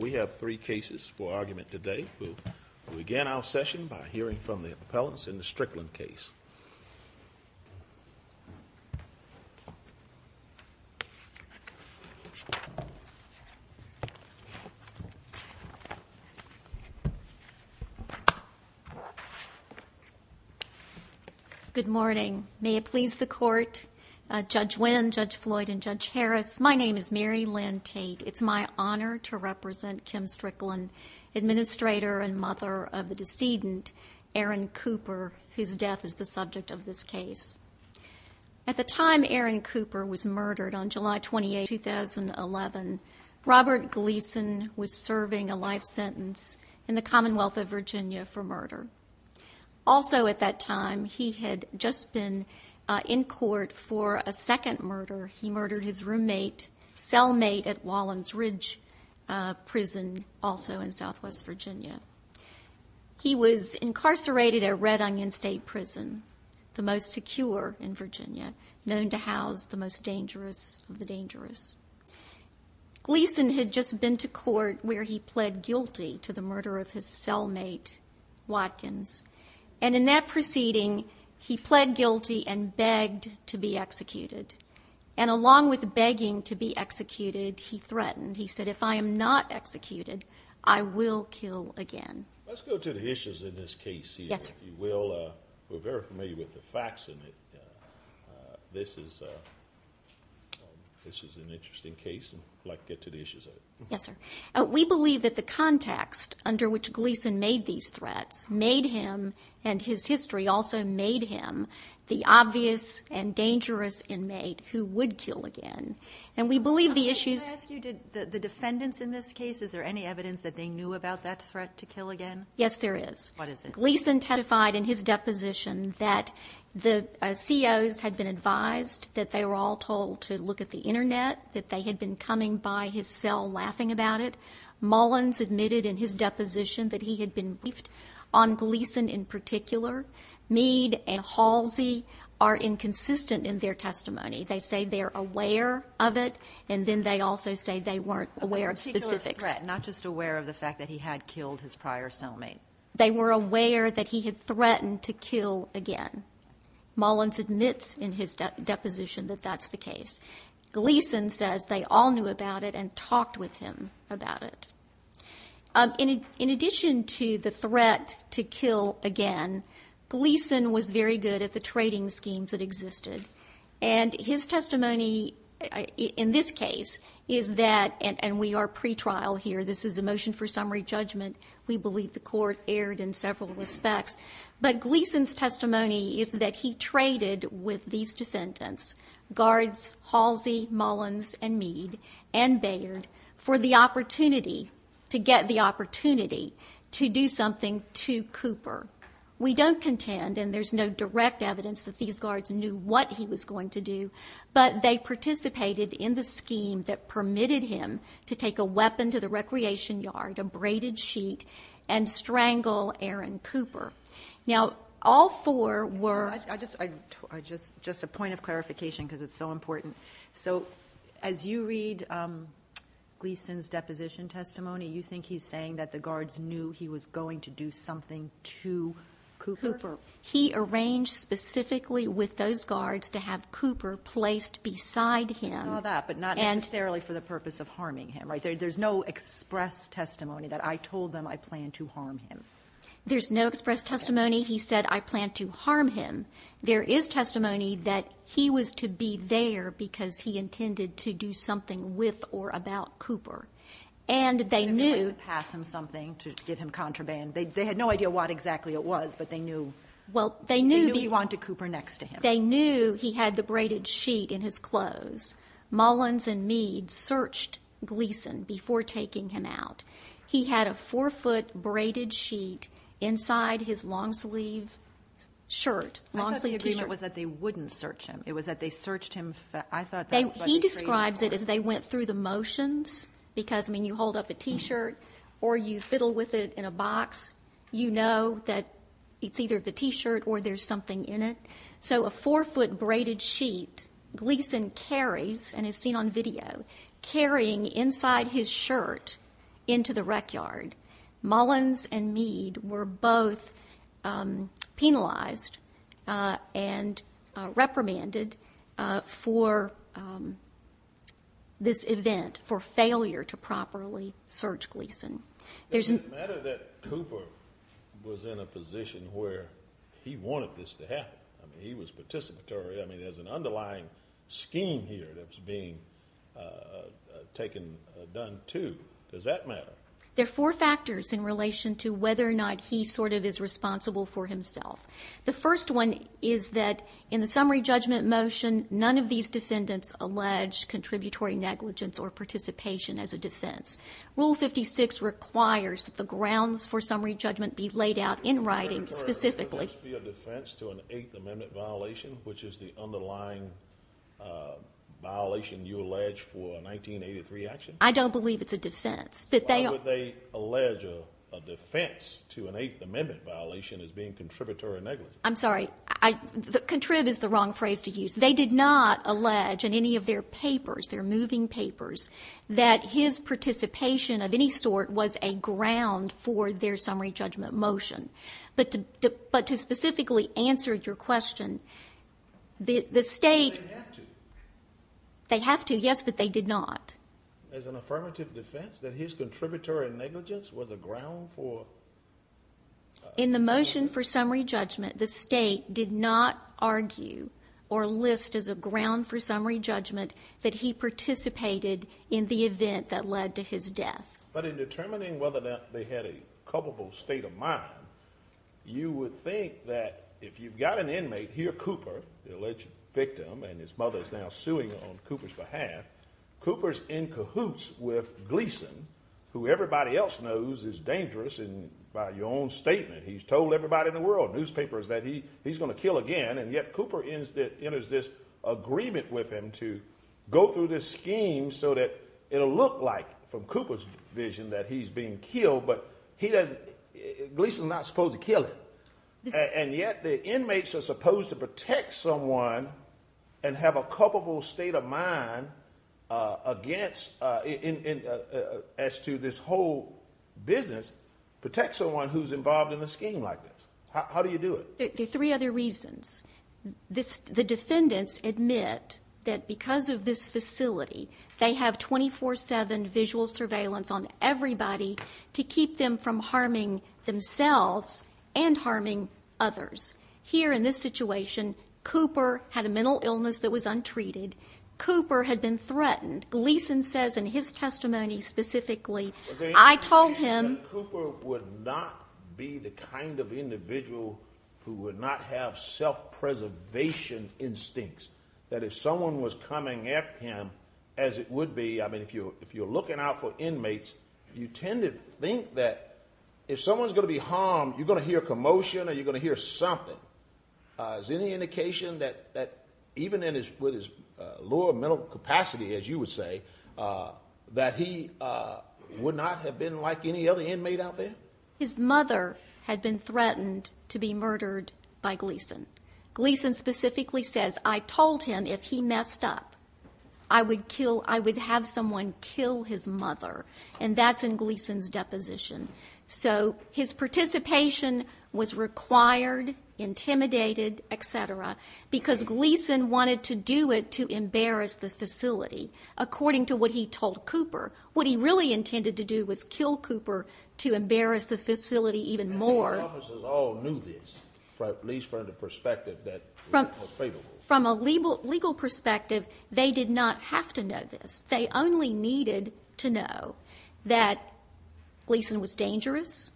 We have three cases for argument today. We'll begin our session by hearing from the appellants in the Strickland case. Good morning. May it please the court, Judge Wynn, Judge Floyd and Judge Harris, my name is Mary Lynn Tate. It's my honor to represent Kim Strickland, administrator and mother of the decedent Aaron Cooper, whose death is the subject of this case. At the time Aaron Cooper was murdered on July 28, 2011, Robert Gleason was serving a life sentence in the Commonwealth of Virginia for murder. Also at that time, he had just been in court for a second murder. He murdered his roommate, cellmate at Wallens Ridge Prison, also in southwest Virginia. He was incarcerated at Red Onion State Prison, the most secure in Virginia, known to house the most dangerous of the dangerous. Gleason had just been to court where he pled guilty to the murder of his cellmate Watkins. And in that proceeding, he pled guilty and begged to be executed. And along with begging to be executed, he threatened, he said, if I am not executed, I will kill again. Let's go to the issues in this case here. Yes, sir. You will. We're very familiar with the facts in it. This is an interesting case. I'd like to get to the issues of it. Yes, sir. We believe that the context under which Gleason made these threats made him, and his history also made him, the obvious and dangerous inmate who would kill again. And we believe the issues... Did the defendants in this case, is there any evidence that they knew about that threat to kill again? Yes, there is. What is it? Gleason testified in his deposition that the COs had been advised that they were all told to look at the internet, that they had been coming by his cell laughing about it. Mullins admitted in his deposition that he had been briefed on Gleason in particular. Mead and Halsey are inconsistent in their testimony. They say they're aware of it, and then they also say they weren't aware of specifics. Not just aware of the fact that he had killed his prior cellmate. They were aware that he had threatened to kill again. Mullins admits in his deposition that that's the case. Gleason says they all knew about it and talked with him about it. In addition to the threat to kill again, Gleason was very good at the trading schemes that existed. And his testimony in this case is that, and we are pre-trial here, this is a motion for summary judgment. We believe the court erred in several respects. But Gleason's testimony is that he traded with these defendants, guards Halsey, Mullins, and Mead, and Baird, for the opportunity to get the opportunity to do something to Cooper. We don't contend, and there's no direct evidence that these guards knew what he was going to do, but they participated in the scheme that permitted him to take a weapon to the recreation yard, a braided sheet, and strangle Aaron Cooper. Just a point of clarification because it's so important. So as you read Gleason's deposition testimony, you think he's saying that the guards knew he was going to do something to Cooper? Cooper. He arranged specifically with those guards to have Cooper placed beside him. I saw that, but not necessarily for the purpose of harming him, right? There's no express testimony that I told them I planned to harm him. There's no express testimony he said I planned to harm him. There is testimony that he was to be there because he intended to do something with or about Cooper. And they knew he had the braided sheet in his clothes. Mullins and Mead searched Gleason before taking him out. He had a four-foot braided sheet inside his long-sleeve shirt. I thought the agreement was that they wouldn't search him. It was that they searched him. He describes it as they went through the motions because you hold up a t-shirt or you fiddle with it in a box. You know that it's either the t-shirt or there's something in it. So a four-foot braided sheet Gleason carries and is seen on video. Carrying inside his shirt into the rec yard, Mullins and Mead were both penalized and reprimanded for this event, for failure to properly search Gleason. Is it a matter that Cooper was in a position where he wanted this to happen? He was participatory. I mean, there's an underlying scheme here that's being taken, done to. Does that matter? There are four factors in relation to whether or not he sort of is responsible for himself. The first one is that in the summary judgment motion, none of these defendants allege contributory negligence or participation as a defense. Rule 56 requires that the grounds for summary judgment be laid out in writing specifically. Would there be a defense to an Eighth Amendment violation, which is the underlying violation you allege for a 1983 action? I don't believe it's a defense, but they are. Why would they allege a defense to an Eighth Amendment violation as being contributory negligence? I'm sorry. Contrib is the wrong phrase to use. They did not allege in any of their papers, their moving papers, that his participation of any sort was a ground for their summary judgment motion. But to specifically answer your question, the State They have to. They have to, yes, but they did not. As an affirmative defense, that his contributory negligence was a ground for In the motion for summary judgment, the State did not argue or list as a ground for summary judgment that he participated in the event that led to his death. But in determining whether or not they had a culpable state of mind, you would think that if you've got an inmate here, Cooper, the alleged victim, and his mother's now suing on Cooper's behalf, Cooper's in cahoots with Gleason, who everybody else knows is dangerous and by your own statement, he's told everybody in the world, newspapers, that he's going to kill again, and yet Cooper enters this agreement with him to go through this scheme so that it'll look like, from Cooper's vision, that he's being killed, but Gleason's not supposed to kill him. And yet the inmates are supposed to protect someone and have a culpable state of mind against, as to this whole business, protect someone who's involved in a scheme like this. How do you do it? There are three other reasons. The defendants admit that because of this facility, they have 24-7 visual surveillance on everybody to keep them from harming themselves and harming others. Here, in this situation, Cooper had a mental illness that was untreated. Cooper had been threatened. Gleason says in his testimony specifically, I told him... Cooper would not be the kind of individual who would not have self-preservation instincts. That if someone was coming at him, as it would be, I mean, if you're looking out for inmates, you tend to think that if someone's going to be harmed, you're going to hear commotion or you're going to hear something. Is there any indication that even in his lower mental capacity, as you would say, that he would not have been like any other inmate out there? His mother had been threatened to be murdered by Gleason. Gleason specifically says, I told him if he messed up, I would have someone kill his mother. And that's in Gleason's deposition. So his participation was required, intimidated, et cetera, because Gleason wanted to do it to embarrass the facility. According to what he told Cooper, what he really intended to do was kill Cooper to embarrass the facility even more. And the law officers all knew this, at least from the perspective that it was fatal. From a legal perspective, they did not have to know this. They only needed to know that Gleason was dangerous,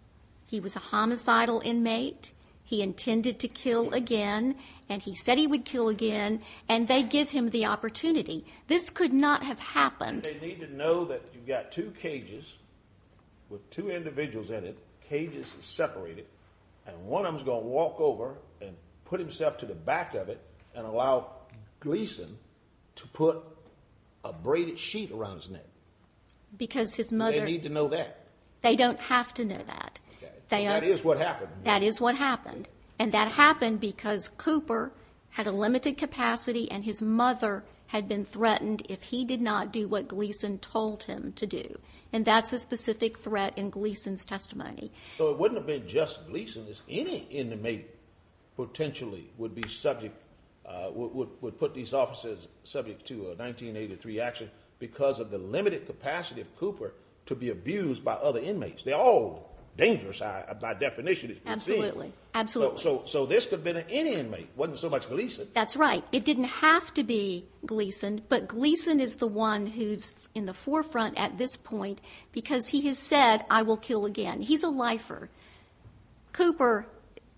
he was a homicidal inmate, he intended to kill again, and he said he would kill again, and they give him the opportunity. This could not have happened. They need to know that you've got two cages with two individuals in it, cages separated, and one of them is going to walk over and put himself to the back of it and allow Gleason to put a braided sheet around his neck. Because his mother... They need to know that. They don't have to know that. That is what happened. That is what happened. And that happened because Cooper had a limited capacity and his mother had been threatened if he did not do what Gleason told him to do. And that's a specific threat in Gleason's testimony. So it wouldn't have been just Gleason, any inmate potentially would be subject, would put these officers subject to a 1983 action because of the limited capacity of Cooper to be abused by other inmates. They're all dangerous by definition. Absolutely. So this could have been any inmate. It wasn't so much Gleason. That's right. It didn't have to be Gleason, but Gleason is the one who's in the forefront at this point because he has said, I will kill again. He's a lifer. Cooper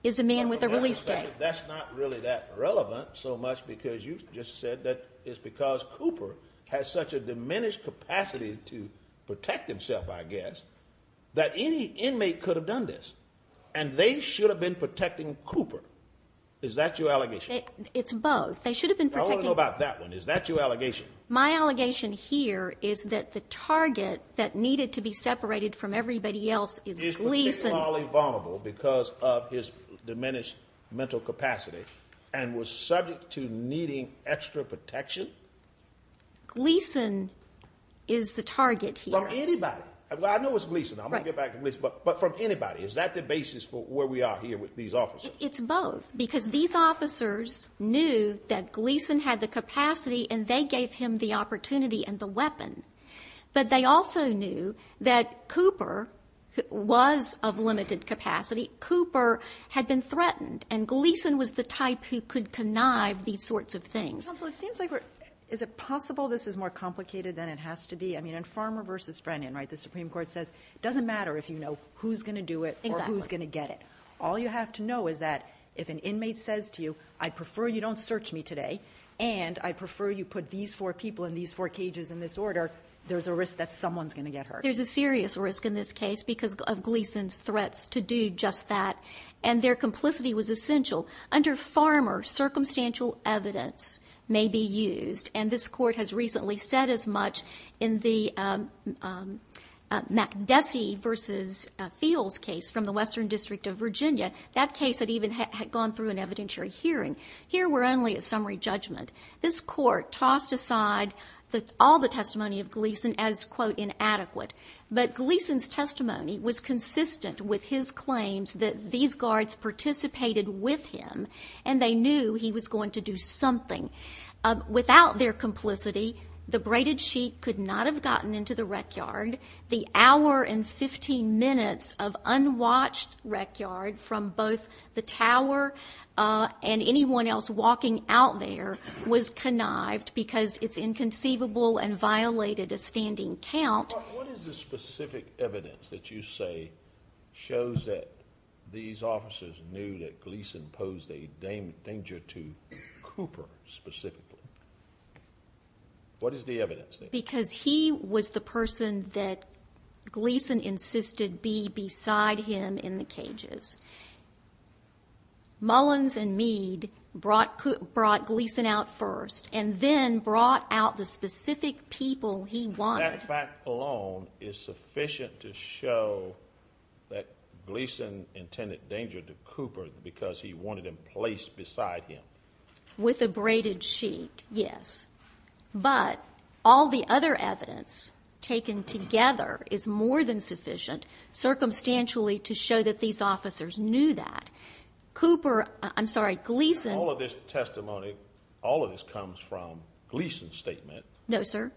is a man with a release date. That's not really that relevant so much because you just said that it's because Cooper has such a diminished capacity to protect himself, I guess, that any inmate could have done this. And they should have been protecting Cooper. Is that your allegation? It's both. They should have been protecting... I want to know about that one. Is that your allegation? My allegation here is that the target that needed to be separated from everybody else is Gleason. Is particularly vulnerable because of his diminished mental capacity and was subject to needing extra protection? Gleason is the target here. From anybody. I know it's Gleason. I'm going to get back to Gleason. But from anybody. Is that the basis for where we are here with these officers? It's both. Because these officers knew that Gleason had the capacity and they gave him the opportunity and the weapon. But they also knew that Cooper was of limited capacity. Cooper had been threatened. And Gleason was the type who could connive these sorts of things. Counsel, it seems like we're... Is it possible this is more complicated than it has to be? I mean, in Farmer v. Frenion, right, the Supreme Court says it doesn't matter if you know who's going to do it or who's going to get it. All you have to know is that if an inmate says to you, I prefer you don't search me today and I prefer you put these four people in these four cages in this order, there's a risk that someone's going to get hurt. There's a serious risk in this case because of Gleason's threats to do just that. And their complicity was essential. Under Farmer, circumstantial evidence may be used. And this court has recently said as much in the McDessie v. Fields case from the Western District of Virginia. That case had even gone through an evidentiary hearing. Here, we're only at summary judgment. This court tossed aside all the testimony of Gleason as, quote, inadequate. But Gleason's testimony was consistent with his claims that these guards participated with him and they knew he was going to do something. Without their complicity, the braided sheet could not have gotten into the rec yard. The hour and 15 minutes of unwatched rec yard from both the tower and anyone else walking out there was connived because it's inconceivable and violated a standing count. What is the specific evidence that you say shows that these officers knew that Gleason posed a danger to Cooper specifically? What is the evidence there? Because he was the person that Gleason insisted be beside him in the cages. Mullins and Meade brought Gleason out first and then brought out the specific people he wanted. That fact alone is sufficient to show that Gleason intended danger to Cooper because he wanted him placed beside him. With a braided sheet, yes. But all the other evidence taken together is more than sufficient circumstantially to show that these officers knew that. Cooper, I'm sorry, Gleason... All of this testimony, all of this comes from Gleason's statement. No, sir.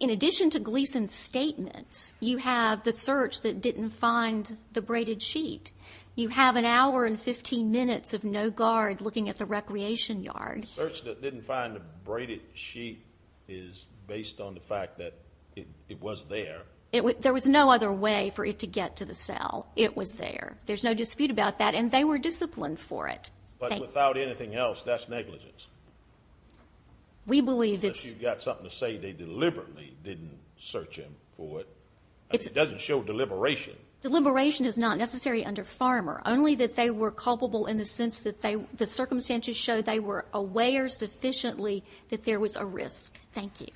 In addition to Gleason's statements, you have the search that didn't find the braided sheet. You have an hour and 15 minutes of no guard looking at the recreation yard. The search that didn't find the braided sheet is based on the fact that it was there. There was no other way for it to get to the cell. It was there. There's no dispute about that and they were disciplined for it. But without anything else, that's negligence. We believe it's... Unless you've got something to say they deliberately didn't search him for it. It doesn't show deliberation. Deliberation is not necessary under Farmer. Only that they were culpable in the sense that the circumstances show they were aware sufficiently that there was a risk. Thank you.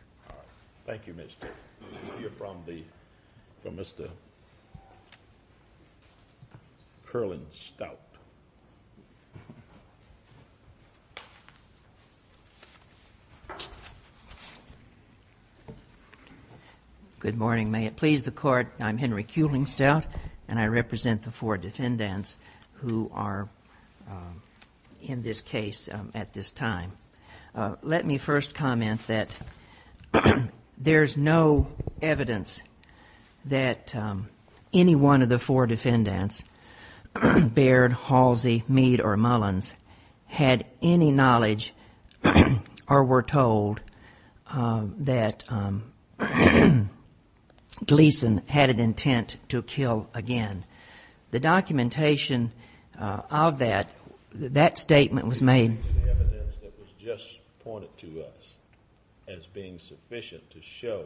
Thank you, Ms. Taylor. We'll hear from Mr. Curling-Stout. Good morning. May it please the Court, I'm Henry Curling-Stout and I represent the four defendants who are in this case at this time. Let me first comment that there's no evidence that any one of the four defendants bared Halsey, Meade, or Mullins had any knowledge or were told that Gleason had an intent to kill again. The documentation of that, that statement was made... The evidence that was just pointed to us as being sufficient to show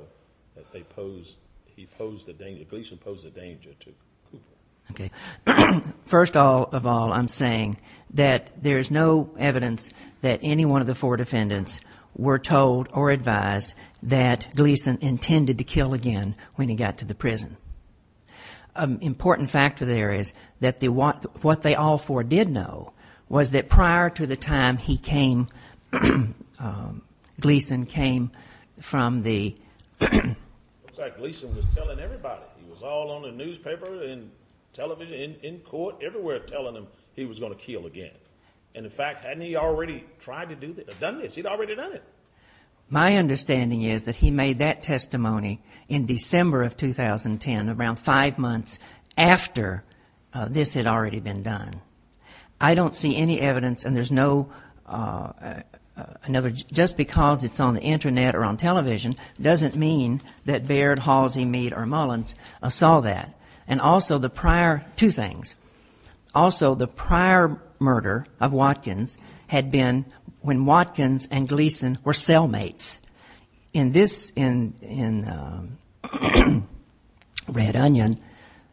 that they posed, he posed a danger, Gleason posed a danger to Cooper. Okay. First of all, I'm saying that there's no evidence that any one of the four defendants were told or advised that Gleason intended to kill again when he got to the prison. An important factor there is that what they all four did know was that prior to the time he came, Gleason came from the... Television, in court, everywhere telling him he was going to kill again. And in fact, hadn't he already tried to do this, done this? He'd already done it. My understanding is that he made that testimony in December of 2010, around five months after this had already been done. I don't see any evidence and there's no... Just because it's on the Internet or on television doesn't mean that Baird, Halsey, Meade, or Mullins saw that. And also the prior... Two things. Also, the prior murder of Watkins had been when Watkins and Gleason were cellmates. In this, in Red Onion,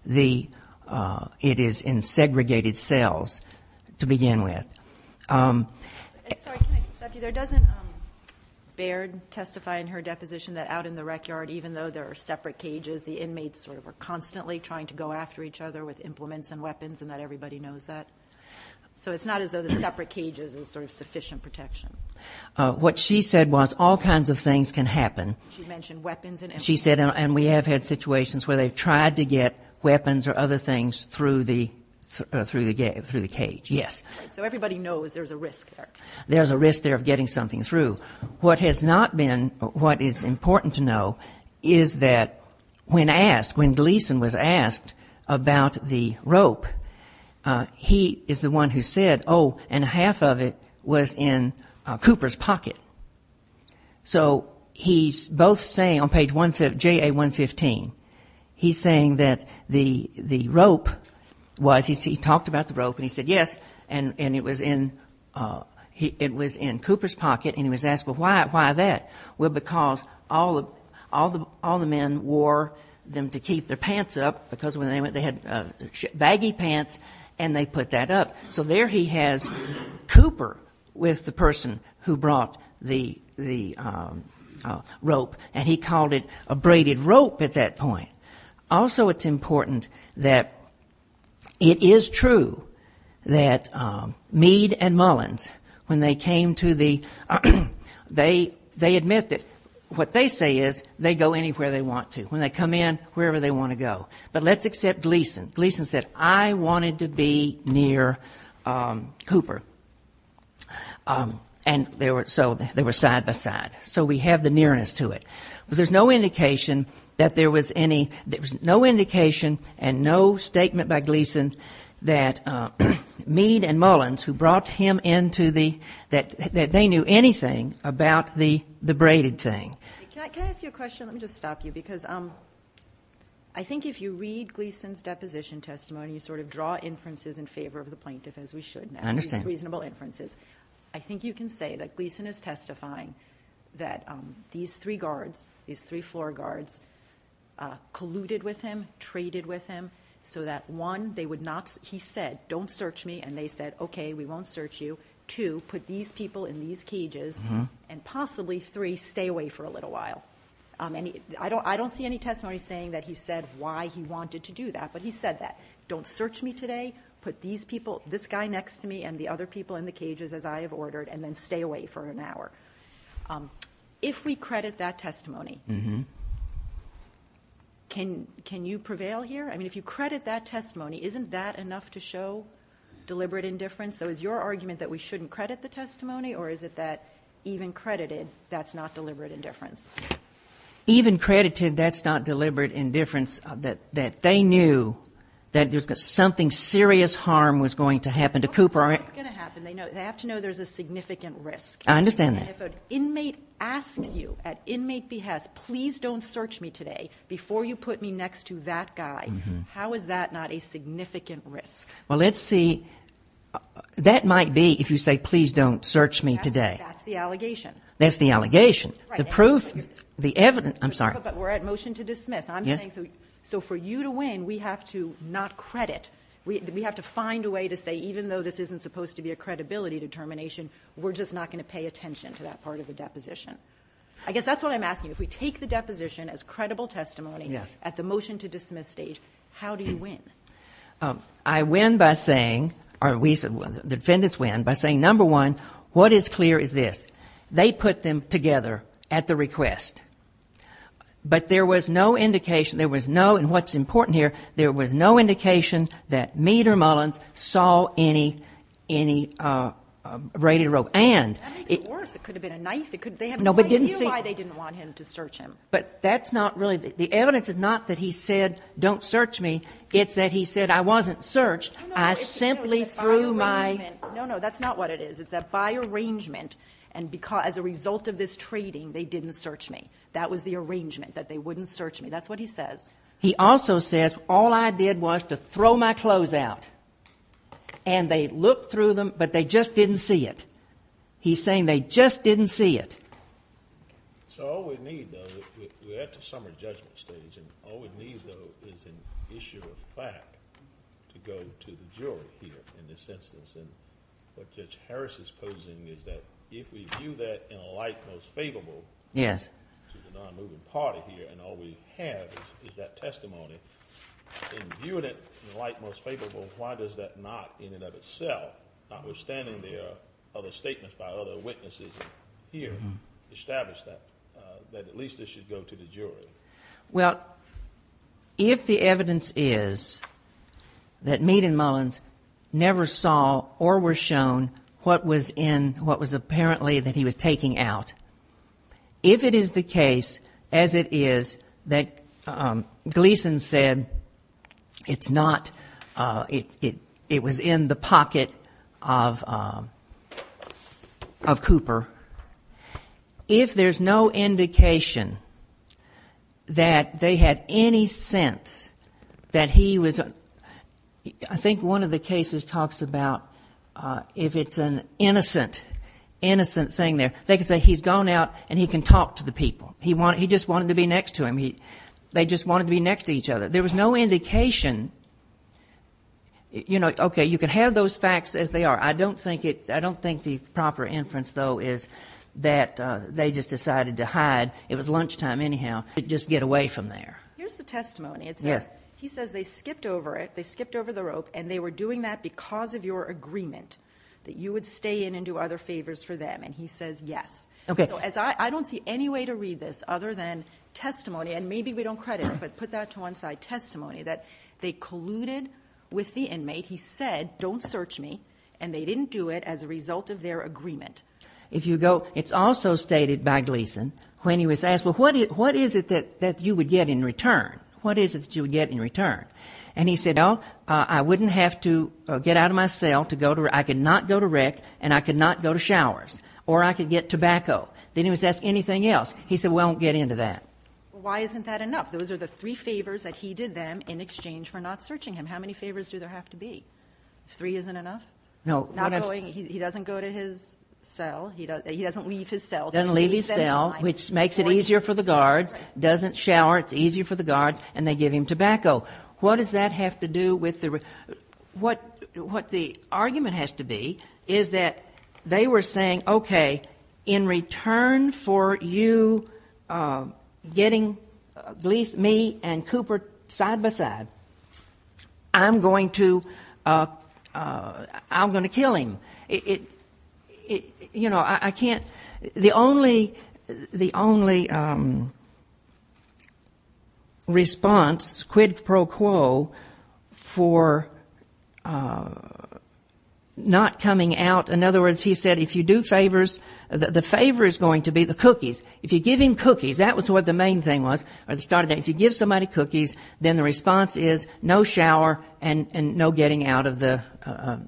it is in segregated cells to begin with. Sorry, can I stop you there? Doesn't Baird testify in her deposition that out in the country, people are constantly trying to go after each other with implements and weapons and that everybody knows that? So it's not as though the separate cages is sort of sufficient protection. What she said was all kinds of things can happen. She mentioned weapons and implements. She said, and we have had situations where they've tried to get weapons or other things through the cage, yes. So everybody knows there's a risk there. There's a risk there of getting something through. What has not been, what is important to know is that when asked, when Gleason was asked about the rope, he is the one who said, oh, and half of it was in Cooper's pocket. So he's both saying on page 115, J.A. 115, he's saying that the rope was, he talked about the rope and he said, yes, and it was in Cooper's pocket and he was asked, well, why that? Well, because all the men wore them to keep their pants up because when they went they had baggy pants and they put that up. So there he has Cooper with the person who brought the rope and he called it a braided rope at that point. Also it's important that it is true that Meade and Mullins, when they came to the, they admit that what they say is they go anywhere they want to. When they come in, wherever they want to go. But let's accept Gleason. Gleason said, I wanted to be near Cooper. And so they were side by side. So we have the nearness to it. But there's no indication that there was any, there's no indication and no statement by Gleason that Meade and Mullins who brought him into the, that they knew anything about the braided thing. Can I ask you a question? Let me just stop you because I think if you read Gleason's deposition testimony, you sort of draw inferences in favor of the plaintiff as we should now. I understand. These reasonable inferences. I think you can say that Gleason is testifying that these three guards, these three floor guards colluded with him, traded with him so that one, they would not, he said, don't search me and they said, okay, we won't search you. Two, put these people in these cages and possibly three, stay away for a little while. I don't see any testimony saying that he said why he wanted to do that, but he said that. Don't search me today. Put these people, this guy next to me and the other people in the cages as I have ordered and then stay away for an hour. If we credit that testimony, can you prevail here? I mean, if you credit that testimony, isn't that enough to show deliberate indifference? So is your argument that we shouldn't credit the testimony or is it that even credited, that's not deliberate indifference? Even credited, that's not deliberate indifference, that they knew that there's something serious harm was going to happen to Cooper. Well, what's going to happen? They have to know there's a significant risk. I understand that. If an inmate asks you at inmate behest, please don't search me today before you put me next to that guy, how is that not a significant risk? Well, let's see. That might be if you say, please don't search me today. That's the allegation. That's the allegation. The proof, the evidence, I'm sorry. But we're at motion to dismiss. So for you to win, we have to not credit. We have to find a way to say even though this isn't supposed to be a credibility determination, we're just not going to pay attention to that part of the deposition. I guess that's what I'm asking. If we take the deposition as credible testimony at the motion to dismiss stage, how do you win? I win by saying, or we, the defendants win by saying, number one, what is clear is this. They put them together at the request. But there was no indication, there was no, and what's important here, there was no indication that Mead or Mullins saw any, any braided rope. And... That makes it worse. It could have been a knife. They have no idea why they didn't want him to search him. But that's not really, the evidence is not that he said, don't search me. It's that he said, I wasn't searched. I simply threw my... No, no, that's not what it is. It's that by arrangement, and because, as a result of this treating, they didn't search me. That was the arrangement, that they wouldn't search me. That's what he says. He also says, all I did was to throw my clothes out. And they looked through them, but they just didn't see it. He's saying they just didn't see it. So all we need, though, we're at the summer judgment stage, and all we need, though, is an issue of fact to go to the jury here in this instance. And what Judge Harris is posing is that if we view that in a light most favorable... Yes. ...to the non-moving party here, and all we have is that testimony. In viewing it in a light most favorable, why does that not, in and of itself, notwithstanding the other statements by other witnesses here, establish that at least this should go to the jury? Well, if the evidence is that Meade and Mullins never saw or were shown what was in, what was apparently that he was taking out, if it is the case, as it is, that Gleason said it's not, it was in the pocket of Cooper, if there's no indication that they had any sense that he was, I think one of the cases talks about if it's an innocent, innocent thing there, they could say he's gone out and he can talk to the people. He just wanted to be next to him. They just wanted to be next to each other. There was no indication, you know, okay, you can have those facts as they are. I don't think it, I don't think the proper inference, though, is that they just decided to hide. It was lunchtime, anyhow. Just get away from there. Here's the testimony. Yes. He says they skipped over it, they skipped over the rope, and they were doing that because of your agreement that you would stay in and do other favors for them. And he says yes. Okay. So as I, I don't see any way to read this other than testimony, and maybe we don't credit him, but put that to one side, testimony, that they colluded with the inmate. He said don't search me, and they didn't do it as a result of their agreement. If you go, it's also stated by Gleason when he was asked, well, what is it that you would get in return? What is it that you would get in return? And he said, well, I wouldn't have to get out of my cell to go to, I could not go to rec, and I could not go to showers, or I could get tobacco. Then he was asked anything else. He said, well, I won't get into that. Well, why isn't that enough? Those are the three favors that he did them in exchange for not searching him. How many favors do there have to be? Three isn't enough? No. Not going, he doesn't go to his cell, he doesn't leave his cell. Doesn't leave his cell, which makes it easier for the guards, doesn't shower, it's easier for the guards, and they give him tobacco. What does that have to do with the, what, what the argument has to be is that they were saying, okay, in return for you getting Gleason, me, and Cooper side-by-side, I'm going to, I'm going to kill him. It, you know, I can't, the only, the only response, quid pro quo, for Gleason was that he was going to, not coming out. In other words, he said, if you do favors, the favor is going to be the cookies. If you give him cookies, that was what the main thing was, at the start of the day, if you give somebody cookies, then the response is no shower and no getting out of the,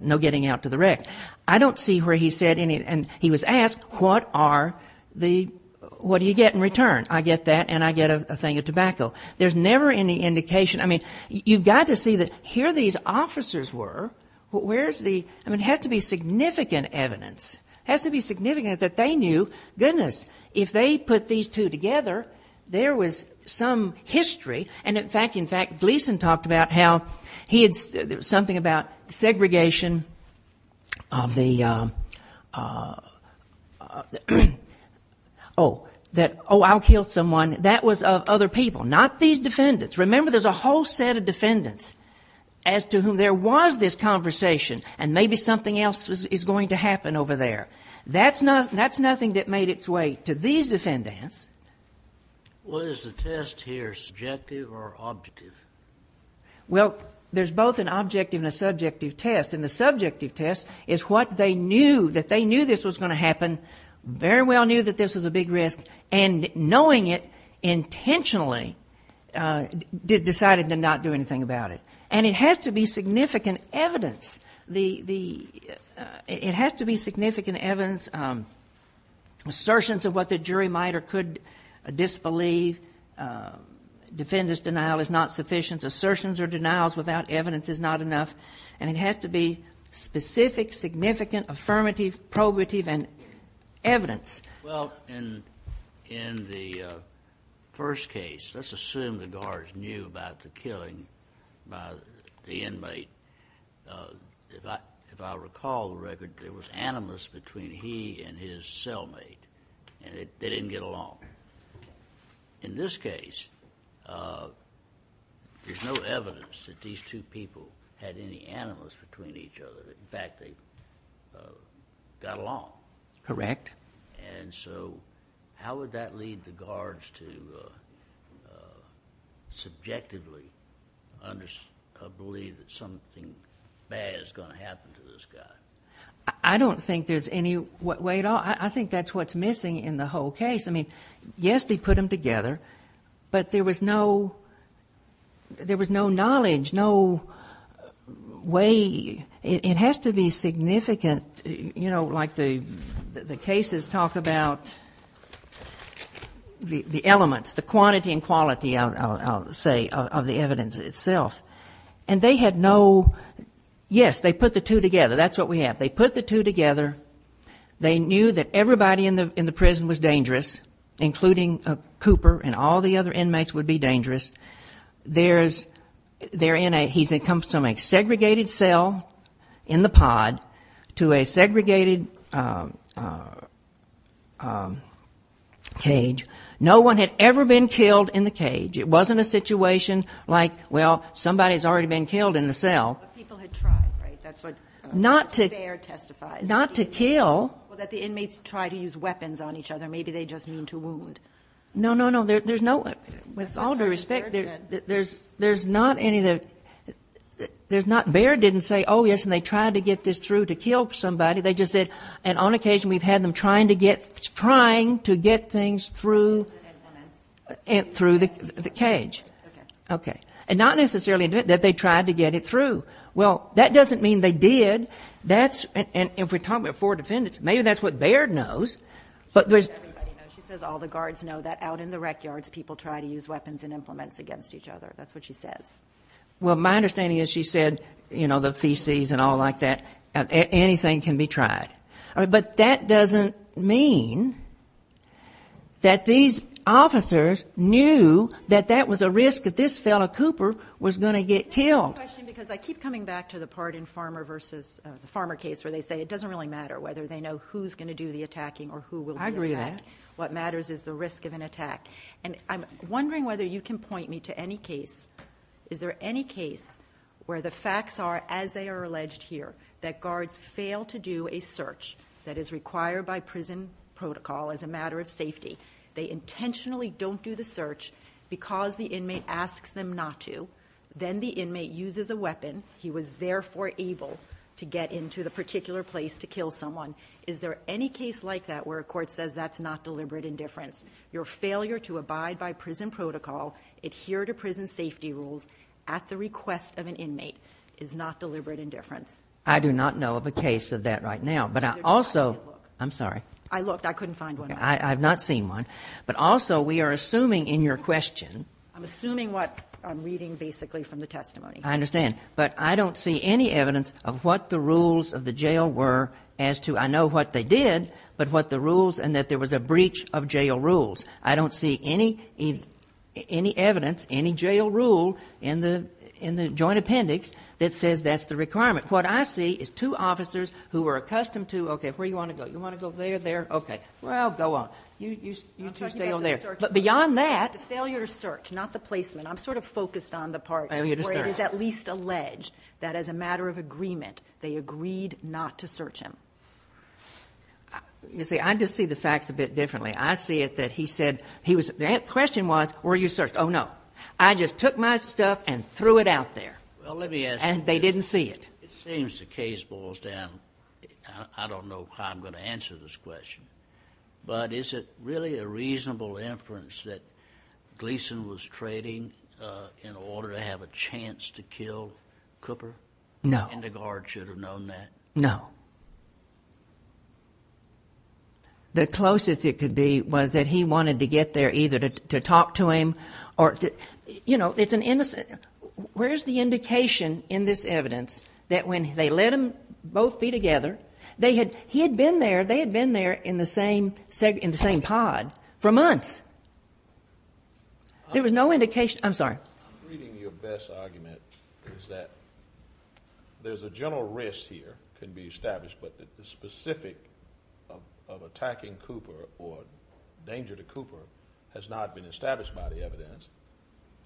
no getting out to the rec. I don't see where he said any, and he was asked, what are the, what do you get in return? I get that, and I get a thing of tobacco. There's never any indication, I mean, you've got to know who these officers were, where's the, I mean, it has to be significant evidence, has to be significant that they knew, goodness, if they put these two together, there was some history, and in fact, Gleason talked about how he had, there was something about segregation of the, oh, that, oh, I'll kill someone, that was of other people, not these good defendants, as to whom there was this conversation, and maybe something else is going to happen over there. That's nothing that made its way to these defendants. What is the test here, subjective or objective? Well, there's both an objective and a subjective test, and the subjective test is what they knew, that they knew this was going to happen, very well knew that this was a big risk, and they didn't know anything about it, and it has to be significant evidence, the, it has to be significant evidence, assertions of what the jury might or could disbelieve, defendant's denial is not sufficient, assertions or denials without evidence is not enough, and it has to be specific, significant, affirmative, probative, and evidence. Well, in, in the first case, let's assume the guards knew about the killing by the inmate. If I, if I recall the record, there was animus between he and his cellmate, and they didn't get along. In this case, there's no evidence that these two people had any animus between each other. In fact, they got along. Correct. And so, how would that lead the guards to subjectively believe that something bad is going to happen to this guy? I don't think there's any way at all, I think that's what's missing in the whole case. I mean, yes, they put them together, but there was no, there was no knowledge, no way, it was, the cases talk about the elements, the quantity and quality, I'll say, of the evidence itself. And they had no, yes, they put the two together, that's what we have. They put the two together, they knew that everybody in the, in the prison was dangerous, including Cooper and all the other inmates would be dangerous. There's, they're in a, he's in cell, in the pod, to a segregated cage. No one had ever been killed in the cage. It wasn't a situation like, well, somebody's already been killed in the cell. But people had tried, right? That's what the bear testifies. Not to kill. Well, that the inmates try to use weapons on each other, maybe they just mean to wound. No, no, no, there's no, with all due respect, there's, there's not any, there's not, Baird didn't say, oh, yes, and they tried to get this through to kill somebody, they just said, and on occasion we've had them trying to get, trying to get things through, through the cage. Okay. Okay. And not necessarily that they tried to get it through. Well, that doesn't mean they did. That's, and if we're talking about four defendants, maybe that's what Baird knows, but there's everybody knows. She says all the guards know that out in the rec yards people try to use weapons and implements against each other. That's what she says. Well, my understanding is she said, you know, the feces and all like that, anything can be tried. But that doesn't mean that these officers knew that that was a risk that this fellow Cooper was going to get killed. I keep coming back to the part in Farmer versus, the Farmer case where they say it doesn't really matter whether they know who's going to do the attacking or who will do the attacking. What matters is the risk of an attack. And I'm wondering whether you can point me to any case, is there any case where the facts are, as they are alleged here, that guards fail to do a search that is required by prison protocol as a matter of safety. They intentionally don't do the search because the inmate asks them not to. Then the inmate uses a weapon. He was therefore able to get into the particular place to kill someone. Is there any case like that where a court says that's not deliberate indifference? Your failure to abide by prison protocol, adhere to prison safety rules at the request of an inmate is not deliberate indifference. I do not know of a case of that right now. But I also, I'm sorry. I looked. I couldn't find one. I've not seen one. But also we are assuming in your question. I'm assuming what I'm reading basically from the testimony. I understand. But I don't see any evidence of what the rules of the jail were as to, I know what they did, but what the rules and that there was a breach of jail rules. I don't see any evidence, any jail rule in the joint appendix that says that's the requirement. What I see is two officers who are accustomed to, okay, where do you want to go? You want to go there, there? Okay. Well, go on. You two stay over there. I'm talking about the search. But beyond that. The failure to search, not the placement. I'm sort of focused on the part where it is at least alleged that as a matter of agreement they agreed not to search him. You see, I just see the facts a bit differently. I see it that he said, he was, the question was, were you searched? Oh, no. I just took my stuff and threw it out there. Well, let me ask you. And they didn't see it. It seems the case boils down, I don't know how I'm going to answer this question. But is it really a reasonable inference that Gleason was trading in order to have a chance to kill Cooper? No. And the guard should have known that? No. The closest it could be was that he wanted to get there either to talk to him or, you know, it's an innocent, where's the indication in this evidence that when they let them both be together, they had, he had been there, they had been there in the same pod for months. There was no indication, I'm sorry. I'm reading your best argument is that there's a general risk here, can be established, but the specific of attacking Cooper or danger to Cooper has not been established by the evidence.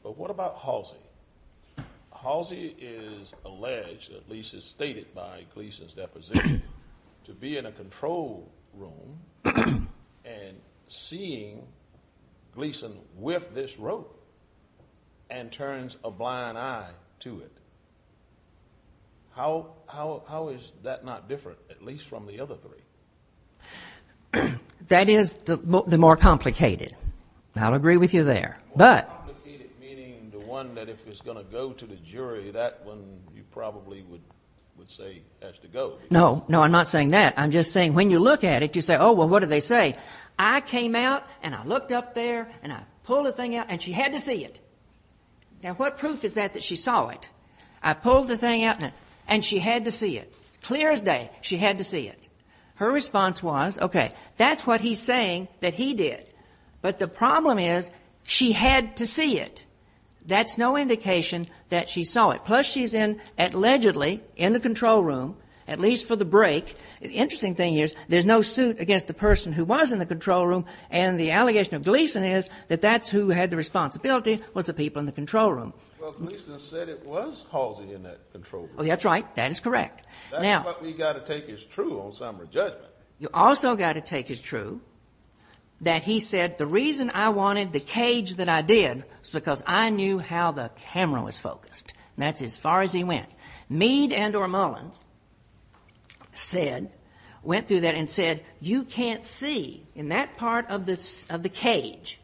But what about Halsey? Halsey is alleged, at least is stated by Gleason's deposition, to be in a control room and seeing Gleason with this rope and turns a blind eye to it. How is that not different, at least from the other three? That is the more complicated. I'll agree with you there. More complicated meaning the one that if it's going to go to the jury, that one you probably would say has to go. No, no, I'm not saying that. I'm just saying when you look at it, you say, oh, well, what do they say? I came out and I looked up there and I pulled the thing out and she had to see it. Now, what proof is that that she saw it? I pulled the thing out and she had to see it. Clear as day, she had to see it. Her response was, okay, that's what he's saying that he did. But the problem is she had to see it. That's no indication that she saw it. Plus she's in, allegedly, in the control room, at least for the break. The interesting thing is there's no suit against the person who was in the control room, and the allegation of Gleason is that that's who had the responsibility was the people in the control room. Well, Gleason said it was Halsey in that control room. Oh, that's right. That is correct. That's what we've got to take as true on summary judgment. You've also got to take as true that he said the reason I wanted the cage that I did was because I knew how the camera was focused. And that's as far as he went. Meade and or Mullins said, went through that and said, you can't see in that part of the cage.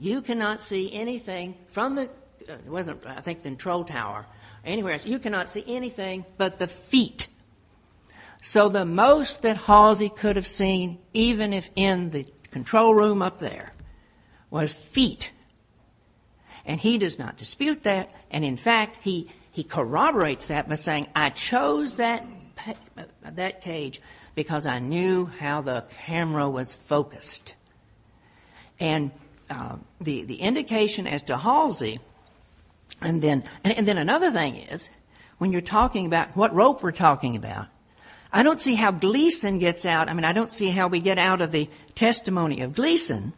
You cannot see anything from the, it wasn't, I think, the control tower, anywhere else. You cannot see anything but the feet. So the most that Halsey could have seen, even if in the control room up there, was feet. And he does not dispute that. And, in fact, he corroborates that by saying I chose that cage because I knew how the camera was focused. And the indication as to Halsey, and then another thing is when you're talking about what rope we're talking about, I don't see how Gleason gets out, I mean, I don't see how we get out of the testimony of Gleason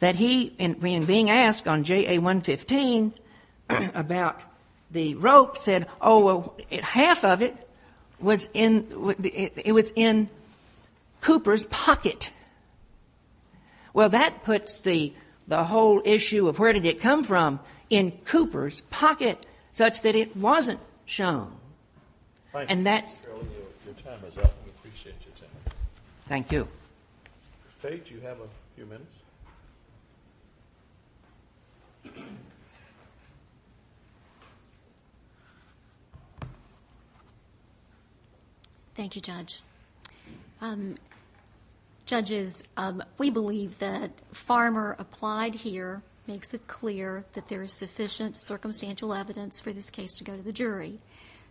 that he, in being asked on JA-115 about the rope, said, oh, well, half of it was in, it was in Cooper's pocket. Well, that puts the whole issue of where did it come from in Cooper's pocket such that it wasn't shown. And that's. Your time is up. We appreciate your time. Thank you. Ms. Tate, you have a few minutes. Thank you, Judge. Judges, we believe that Farmer applied here, makes it clear that there is sufficient circumstantial evidence for this case to go to the jury.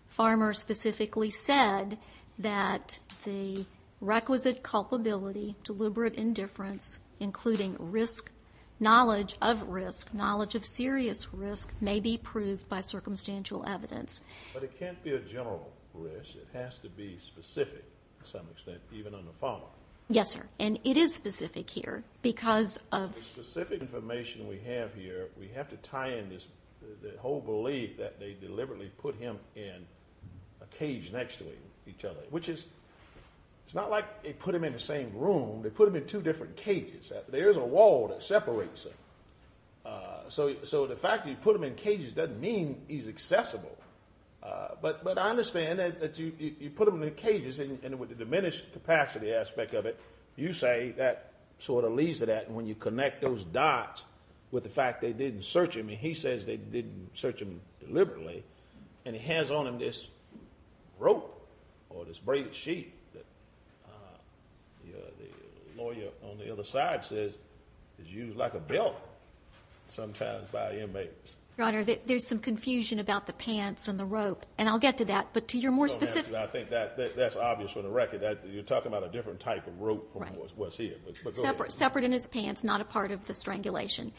Farmer specifically said that the requisite culpability, deliberate indifference, including risk, knowledge of risk, knowledge of serious risk may be proved by circumstantial evidence. But it can't be a general risk. It has to be specific to some extent, even under Farmer. Yes, sir. And it is specific here because of... a cage next to each other, which is, it's not like they put them in the same room. They put them in two different cages. There's a wall that separates them. So the fact that you put them in cages doesn't mean he's accessible. But I understand that you put them in cages, and with the diminished capacity aspect of it, you say that sort of leads to that. And when you connect those dots with the fact they didn't search him, and he says they didn't search him deliberately, and he has on him this rope or this braided sheet that the lawyer on the other side says is used like a belt sometimes by inmates. Your Honor, there's some confusion about the pants and the rope, and I'll get to that. But to your more specific... I think that's obvious for the record. You're talking about a different type of rope from what's here. Separate in his pants, not a part of the strangulation.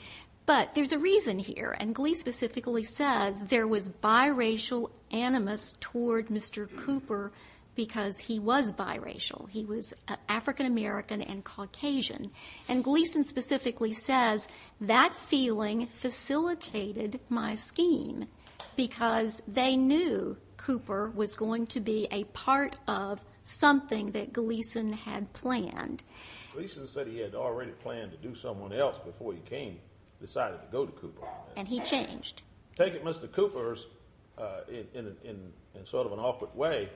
But there's a reason here, and Gleason specifically says there was biracial animus toward Mr. Cooper because he was biracial. He was African American and Caucasian. And Gleason specifically says that feeling facilitated my scheme because they knew Cooper was going to be a part of something that Gleason had planned. Gleason said he had already planned to do someone else before he came, decided to go to Cooper. And he changed. Take it Mr. Cooper's, in sort of an awkward way,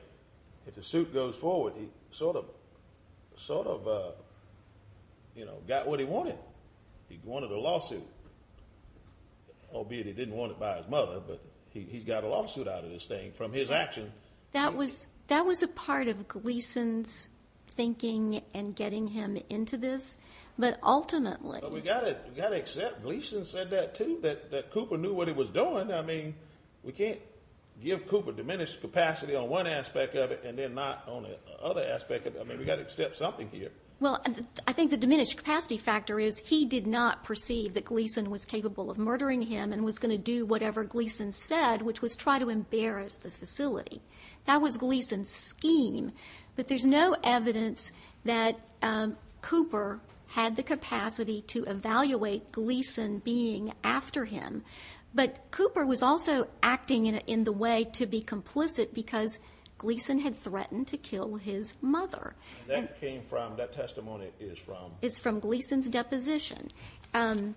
if the suit goes forward, he sort of got what he wanted. He wanted a lawsuit, albeit he didn't want it by his mother, but he's got a lawsuit out of this thing from his action. That was a part of Gleason's thinking in getting him into this. But ultimately... We've got to accept Gleason said that too, that Cooper knew what he was doing. I mean, we can't give Cooper diminished capacity on one aspect of it and then not on the other aspect of it. I mean, we've got to accept something here. Well, I think the diminished capacity factor is he did not perceive that Gleason was capable of murdering him and was going to do whatever Gleason said, which was try to embarrass the facility. That was Gleason's scheme. But there's no evidence that Cooper had the capacity to evaluate Gleason being after him. But Cooper was also acting in the way to be complicit because Gleason had threatened to kill his mother. And that came from, that testimony is from? It's from Gleason's deposition. On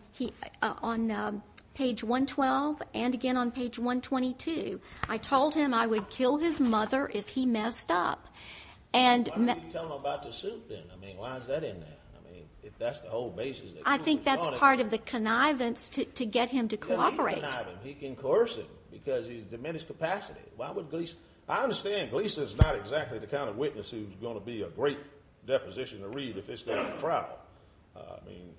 page 112 and again on page 122, I told him I would kill his mother if he messed up. Why would you tell him about the soup then? I mean, why is that in there? I mean, if that's the whole basis... I think that's part of the connivance to get him to cooperate. He can connive him. He can coerce him because he's diminished capacity. Why would Gleason... I understand Gleason's not exactly the kind of witness who's going to be a great deposition to read if it's going to trial. I mean,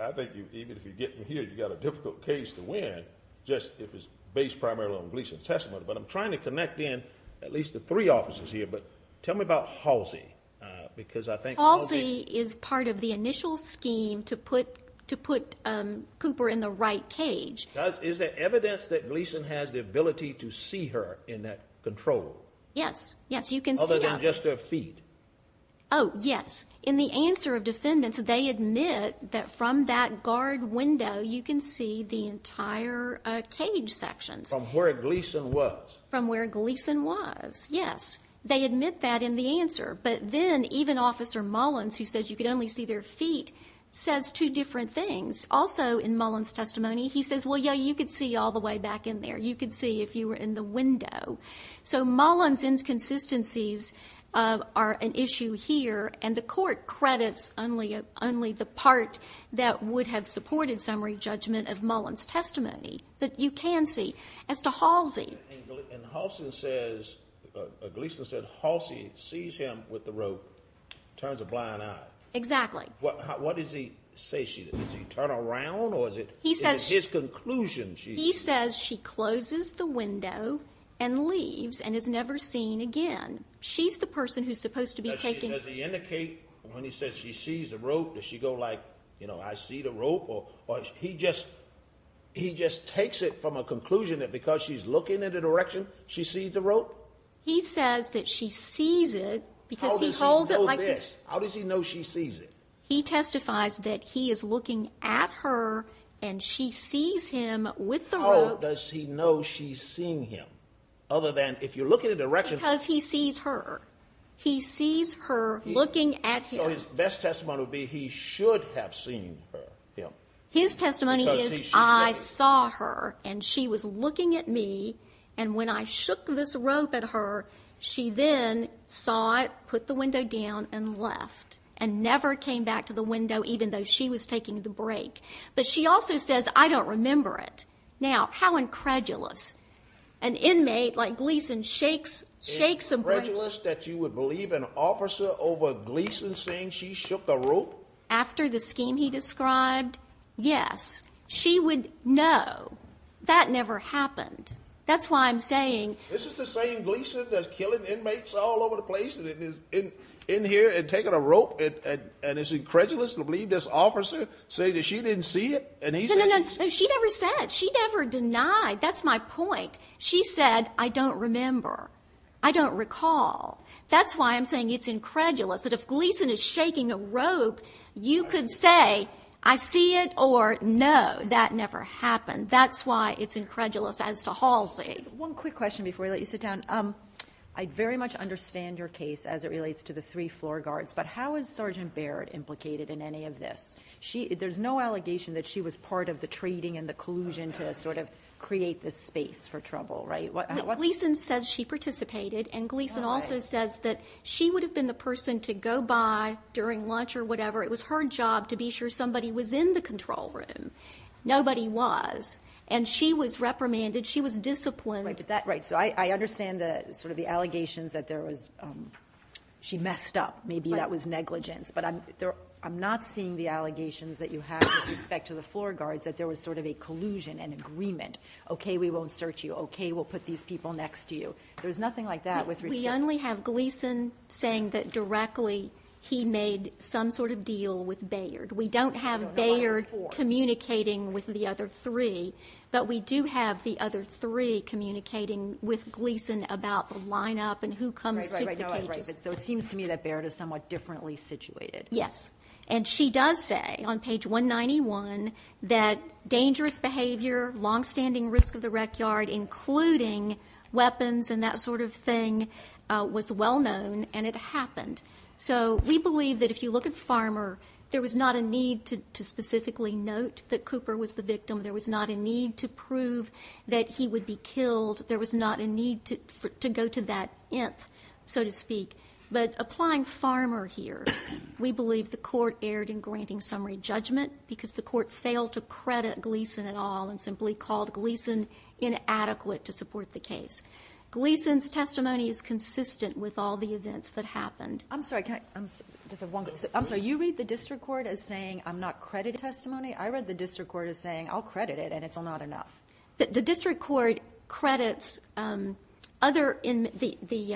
I think even if you get him here, you've got a difficult case to win just if it's based primarily on Gleason's testimony. But I'm trying to connect in at least the three officers here. But tell me about Halsey because I think Halsey... Halsey is part of the initial scheme to put Cooper in the right cage. Is there evidence that Gleason has the ability to see her in that control? Yes, yes, you can see her. Other than just her feet? Oh, yes. In the answer of defendants, they admit that from that guard window, you can see the entire cage section. From where Gleason was? From where Gleason was, yes. They admit that in the answer. But then even Officer Mullins, who says you could only see their feet, says two different things. Also in Mullins' testimony, he says, well, yeah, you could see all the way back in there. You could see if you were in the window. So Mullins' inconsistencies are an issue here, and the court credits only the part that would have supported summary judgment of Mullins' testimony. But you can see. As to Halsey... And Halsey says, Gleason said Halsey sees him with the rope, turns a blind eye. Exactly. What does he say she does? Does he turn around or is it his conclusion? He says she closes the window and leaves and is never seen again. She's the person who's supposed to be taking... Does he indicate when he says she sees the rope, does she go like, you know, I see the rope? Or he just takes it from a conclusion that because she's looking in a direction, she sees the rope? He says that she sees it because he holds it like this. How does he know she sees it? He testifies that he is looking at her and she sees him with the rope. How does he know she's seeing him other than if you're looking in a direction... Because he sees her. He sees her looking at him. So his best testimony would be he should have seen her. His testimony is I saw her, and she was looking at me, and when I shook this rope at her, she then saw it, put the window down, and left and never came back to the window even though she was taking the break. But she also says, I don't remember it. Now, how incredulous. An inmate like Gleason shakes a break... Is it incredulous that you would believe an officer over Gleason saying she shook a rope? After the scheme he described, yes. She would know. That never happened. That's why I'm saying... This is the same Gleason that's killing inmates all over the place and is in here and taking a rope, and it's incredulous to believe this officer said that she didn't see it. No, no, no. She never said. She never denied. That's my point. She said, I don't remember. I don't recall. That's why I'm saying it's incredulous that if Gleason is shaking a rope, you could say, I see it, or no, that never happened. That's why it's incredulous as to Halsey. One quick question before we let you sit down. I very much understand your case as it relates to the three floor guards, but how is Sergeant Baird implicated in any of this? There's no allegation that she was part of the trading and the collusion to sort of create this space for trouble, right? Gleason says she participated, and Gleason also says that she would have been the person to go by during lunch or whatever. It was her job to be sure somebody was in the control room. Nobody was. And she was reprimanded. She was disciplined. Right. So I understand sort of the allegations that there was, she messed up. Maybe that was negligence. But I'm not seeing the allegations that you have with respect to the floor guards that there was sort of a collusion, an agreement. Okay, we won't search you. Okay, we'll put these people next to you. There's nothing like that with respect to. We only have Gleason saying that directly he made some sort of deal with Baird. We don't have Baird communicating with the other three. But we do have the other three communicating with Gleason about the lineup and who comes to the cages. Right, right, right. So it seems to me that Baird is somewhat differently situated. Yes. And she does say on page 191 that dangerous behavior, long-standing risk of the rec yard, including weapons and that sort of thing was well known, and it happened. So we believe that if you look at Farmer, there was not a need to specifically note that Cooper was the victim. There was not a need to prove that he would be killed. There was not a need to go to that inth, so to speak. But applying Farmer here, we believe the court erred in granting summary judgment because the court failed to credit Gleason at all and simply called Gleason inadequate to support the case. Gleason's testimony is consistent with all the events that happened. I'm sorry, can I just have one question. I'm sorry, you read the district court as saying I'm not crediting testimony. I read the district court as saying I'll credit it and it's not enough. The district court credits the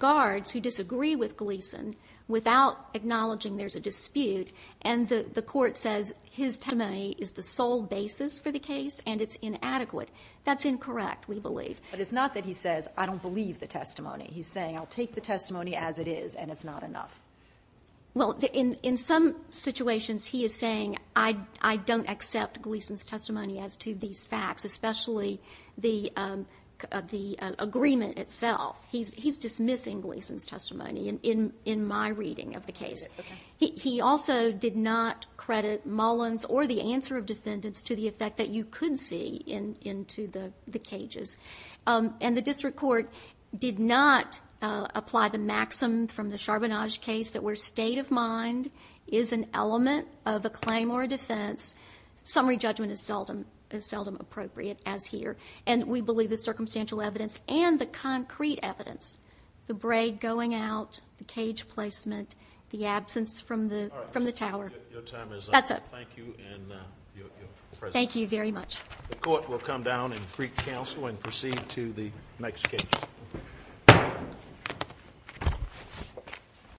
guards who disagree with Gleason without acknowledging there's a dispute, and the court says his testimony is the sole basis for the case and it's inadequate. That's incorrect, we believe. But it's not that he says I don't believe the testimony. He's saying I'll take the testimony as it is and it's not enough. Well, in some situations he is saying I don't accept Gleason's testimony as to these facts, especially the agreement itself. He's dismissing Gleason's testimony in my reading of the case. He also did not credit Mullins or the answer of defendants to the effect that you could see into the cages. And the district court did not apply the maxim from the Charbonnage case that where state of mind is an element of a claim or a defense, summary judgment is seldom appropriate as here. And we believe the circumstantial evidence and the concrete evidence, the braid going out, the cage placement, the absence from the tower. All right, your time is up. That's it. Thank you and your presentation. Thank you very much. The court will come down and greet counsel and proceed to the next case.